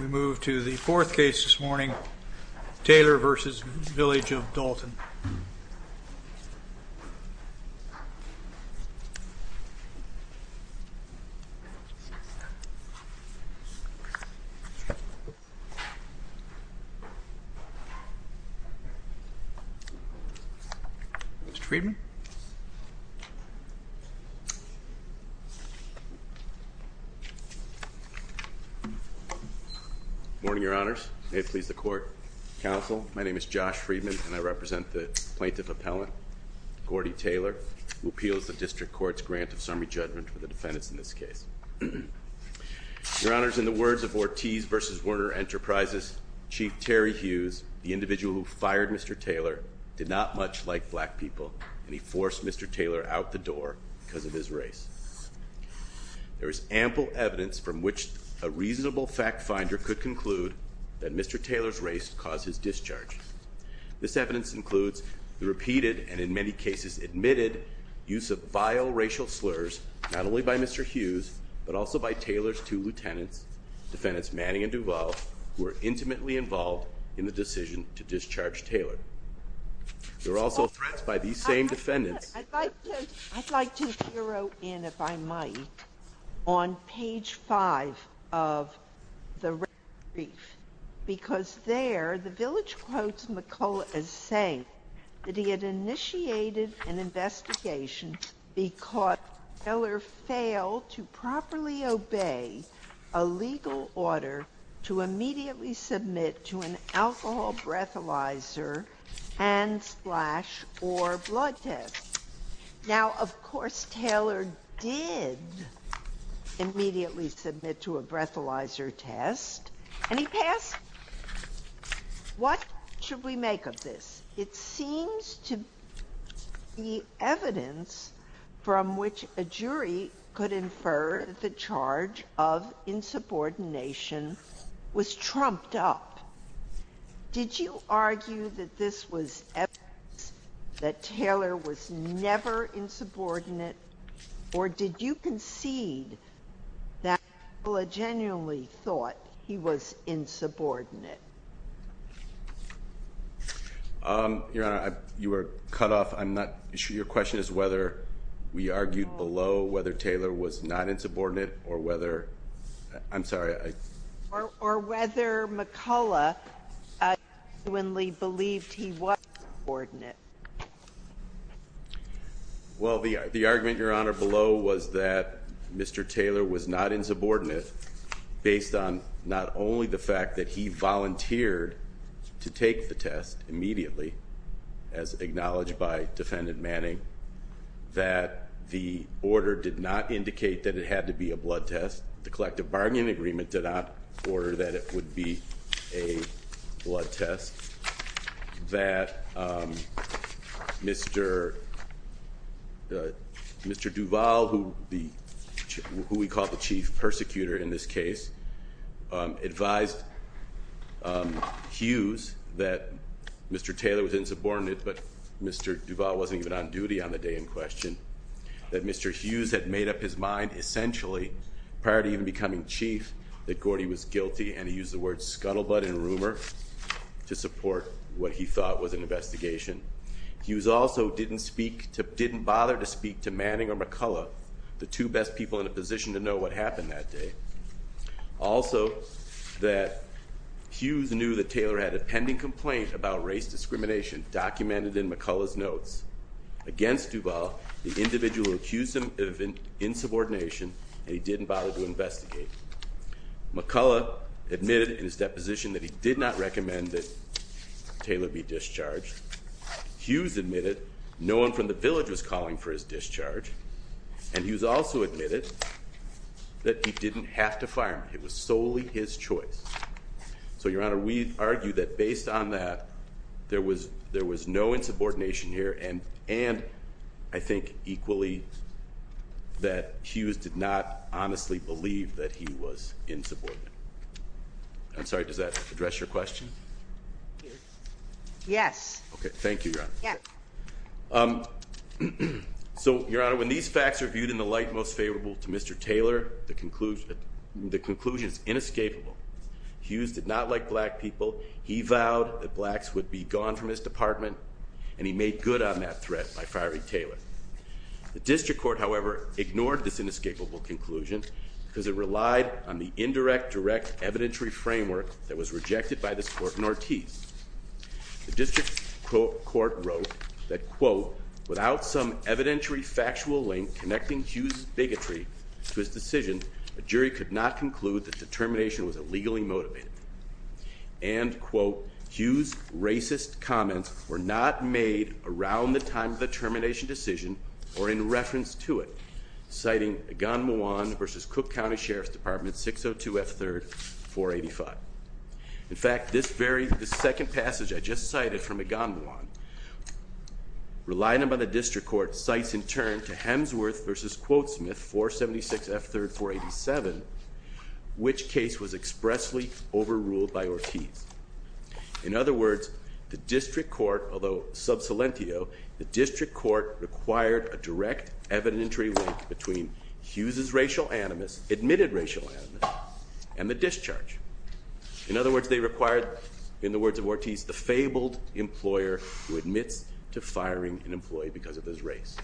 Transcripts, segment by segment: We move to the fourth case this morning, Taylor v. Village of Dalton. Morning, your honors. May it please the court, counsel. My name is Josh Friedman and I represent the plaintiff appellant, Gordie Taylor, who appeals the district court's grant of summary judgment for the defendants in this case. Your honors, in the words of Ortiz v. Werner Enterprises, Chief Terry Hughes, the individual who fired Mr. Taylor, did not much like black people, and he forced Mr. Taylor out the door because of his race. There is ample evidence from which a reasonable fact finder could conclude that Mr. Taylor's race caused his discharge. This evidence includes the repeated, and in many cases admitted, use of vile racial slurs, not only by Mr. Hughes, but also by Taylor's two lieutenants, defendants Manning and Duvall, who were intimately involved in the decision to discharge Taylor. You're also threatened by these same defendants. I'd like to zero in, if I might, on page five of the red brief, because there, the Village quotes McCulloch as saying that he had initiated an investigation because Taylor failed to properly obey a legal order to immediately submit to an alcohol breathalyzer, hand splash, or blood test. Now, of course, Taylor did immediately submit to a breathalyzer test, and he passed. What should we make of this? It seems to be evidence from which a jury could infer that the charge of insubordination was trumped up. Did you argue that this was evidence that Taylor was never insubordinate, or did you concede that McCulloch genuinely thought he was insubordinate? Your Honor, you were cut off. I'm not sure your question is whether we argued below whether Taylor was not insubordinate or whether, I'm sorry. Or whether McCulloch genuinely believed he was insubordinate. Well, the argument, Your Honor, below was that Mr. Taylor was not insubordinate based on not only the fact that he volunteered to take the test immediately, as acknowledged by Defendant Manning, that the order did not indicate that it had to be a blood test. The collective bargaining agreement did not order that it would be a blood test. That Mr. Duval, who we call the chief persecutor in this case, advised Hughes that Mr. Taylor was insubordinate, but Mr. Duval wasn't even on duty on the day in question. That Mr. Hughes had made up his mind essentially, prior to even becoming chief, that Gordy was guilty and he used the words scuttlebutt and rumor to support what he thought was an investigation. Hughes also didn't speak, didn't bother to speak to Manning or McCulloch, the two best people in a position to know what happened that day. Also that Hughes knew that Taylor had a pending complaint about race discrimination documented in McCulloch's notes. Against Duval, the individual accused him of insubordination and he didn't bother to investigate. McCulloch admitted in his deposition that he did not recommend that Taylor be discharged. Hughes admitted no one from the village was calling for his discharge. And Hughes also admitted that he didn't have to fire him. It was solely his choice. So, Your Honor, we argue that based on that, there was no insubordination here and I think equally that Hughes did not honestly believe that he was insubordinate. I'm sorry, does that address your question? Okay, thank you, Your Honor. So, Your Honor, when these facts are viewed in the light most favorable to Mr. Taylor, the conclusion is inescapable. Hughes did not like black people. He vowed that blacks would be gone from his department and he made good on that threat by firing Taylor. The district court, however, ignored this inescapable conclusion because it relied on the indirect direct evidentiary framework that was rejected by this court in Ortiz. The district court wrote that, quote, without some evidentiary factual link connecting Hughes' bigotry to his decision, a jury could not conclude that the termination was illegally motivated. And, quote, Hughes' racist comments were not made around the time of the termination decision or in reference to it. Citing Agon Muwan versus Cook County Sheriff's Department 602F3, 485. In fact, this very, the second passage I just cited from Agon Muwan. Relying upon the district court, cites in turn to Hemsworth versus Quotesmith 476F3, 487, which case was expressly overruled by Ortiz. In other words, the district court, although sub silentio, the district court required a direct evidentiary link between Hughes' racial animus, admitted racial animus, and the discharge. In other words, they required, in the words of Ortiz, the fabled employer who admits to firing an employee because of his race.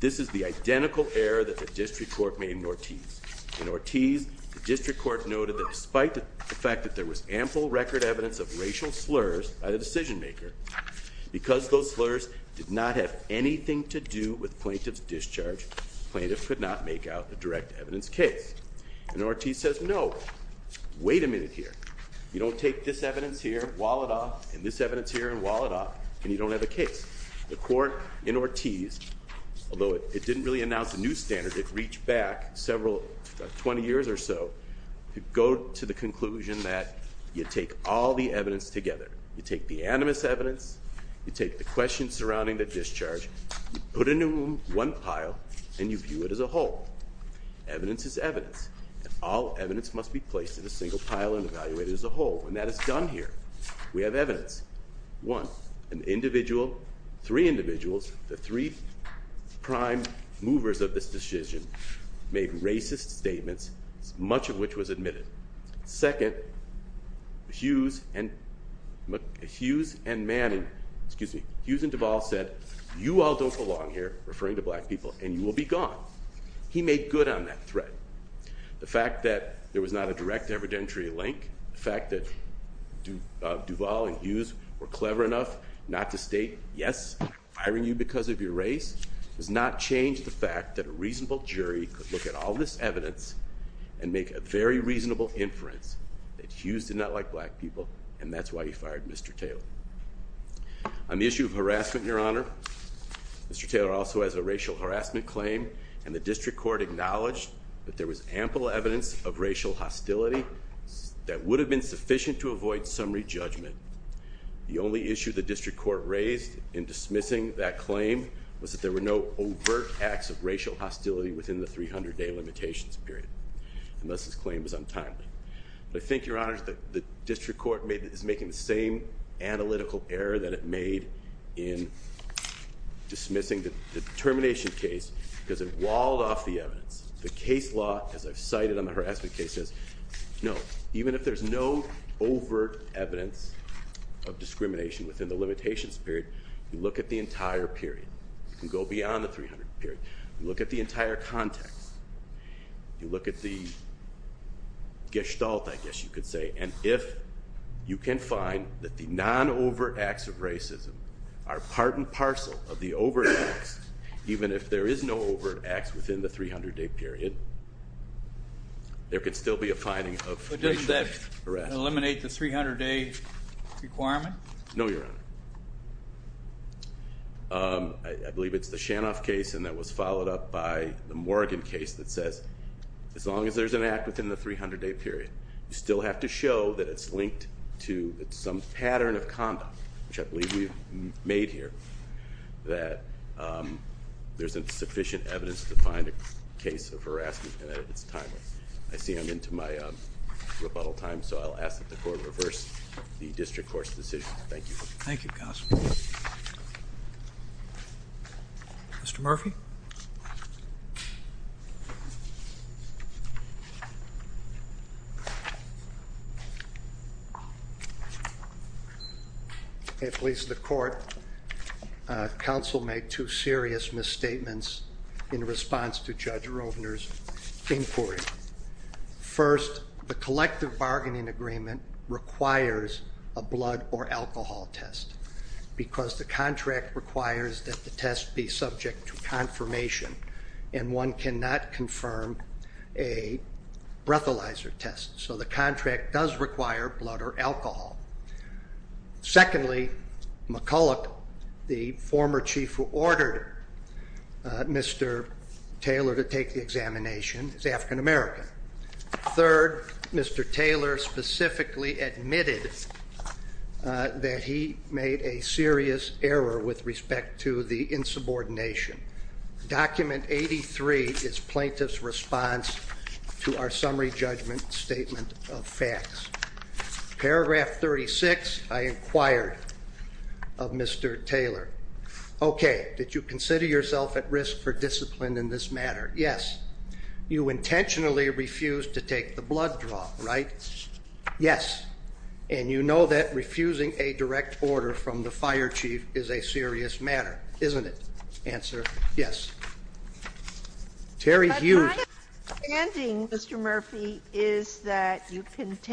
This is the identical error that the district court made in Ortiz. In Ortiz, the district court noted that despite the fact that there was ample record evidence of racial slurs by the decision maker, because those slurs did not have anything to do with plaintiff's discharge, plaintiff could not make out a direct evidence case. And Ortiz says, no, wait a minute here. You don't take this evidence here, wall it off, and this evidence here, and wall it off, and you don't have a case. The court in Ortiz, although it didn't really announce a new standard, it reached back several, 20 years or so to go to the conclusion that you take all the evidence together. You take the animus evidence, you take the questions surrounding the discharge, you put it in one pile, and you view it as a whole. Evidence is evidence, and all evidence must be placed in a single pile and evaluated as a whole, and that is done here. We have evidence. One, an individual, three individuals, the three prime movers of this decision, made racist statements, much of which was admitted. Second, Hughes and Manning, excuse me, Hughes and Duvall said, you all don't belong here, referring to black people, and you will be gone. He made good on that threat. The fact that there was not a direct evidentiary link, the fact that Duvall and Hughes were clever enough not to state, yes, I'm firing you because of your race, does not change the fact that a reasonable jury could look at all this evidence and make a very reasonable inference that Hughes did not like black people, and that's why he fired Mr. Taylor. On the issue of harassment, Your Honor, Mr. Taylor also has a racial harassment claim, and the district court acknowledged that there was ample evidence of racial hostility that would have been sufficient to avoid summary judgment. The only issue the district court raised in dismissing that claim was that there were no overt acts of racial hostility within the 300-day limitations period, and thus his claim was untimely. I think, Your Honor, the district court is making the same analytical error that it made in dismissing the termination case because it walled off the evidence. The case law, as I've cited on the harassment case, says no, even if there's no overt evidence of discrimination within the limitations period, you look at the entire period. You can go beyond the 300-day period. You look at the entire context. You look at the gestalt, I guess you could say, and if you can find that the non-overt acts of racism are part and parcel of the overt acts, even if there is no overt acts within the 300-day period, there could still be a finding of racial harassment. But doesn't that eliminate the 300-day requirement? No, Your Honor. I believe it's the Shanoff case and that was followed up by the Morgan case that says as long as there's an act within the 300-day period, you still have to show that it's linked to some pattern of conduct, which I believe we've made here, that there's sufficient evidence to find a case of harassment and that it's timely. I see I'm into my rebuttal time, so I'll ask that the court reverse the district court's decision. Thank you. Thank you, counsel. Mr. Murphy? At least the court, counsel made two serious misstatements in response to Judge Rovner's inquiry. First, the collective bargaining agreement requires a blood or alcohol test because the contract requires that the test be subject to confirmation, and one cannot confirm a breathalyzer test. So the contract does require blood or alcohol. Secondly, McCulloch, the former chief who ordered Mr. Taylor to take the examination, is African American. Third, Mr. Taylor specifically admitted that he made a serious error with respect to the insubordination. Document 83 is plaintiff's response to our summary judgment statement of facts. Paragraph 36, I inquired of Mr. Taylor. Okay. Did you consider yourself at risk for discipline in this matter? Yes. You intentionally refused to take the blood draw, right? Yes. And you know that refusing a direct order from the fire chief is a serious matter, isn't it? Answer, yes. Terry Hughes. But my understanding, Mr. Murphy, is that you can take the blood draw.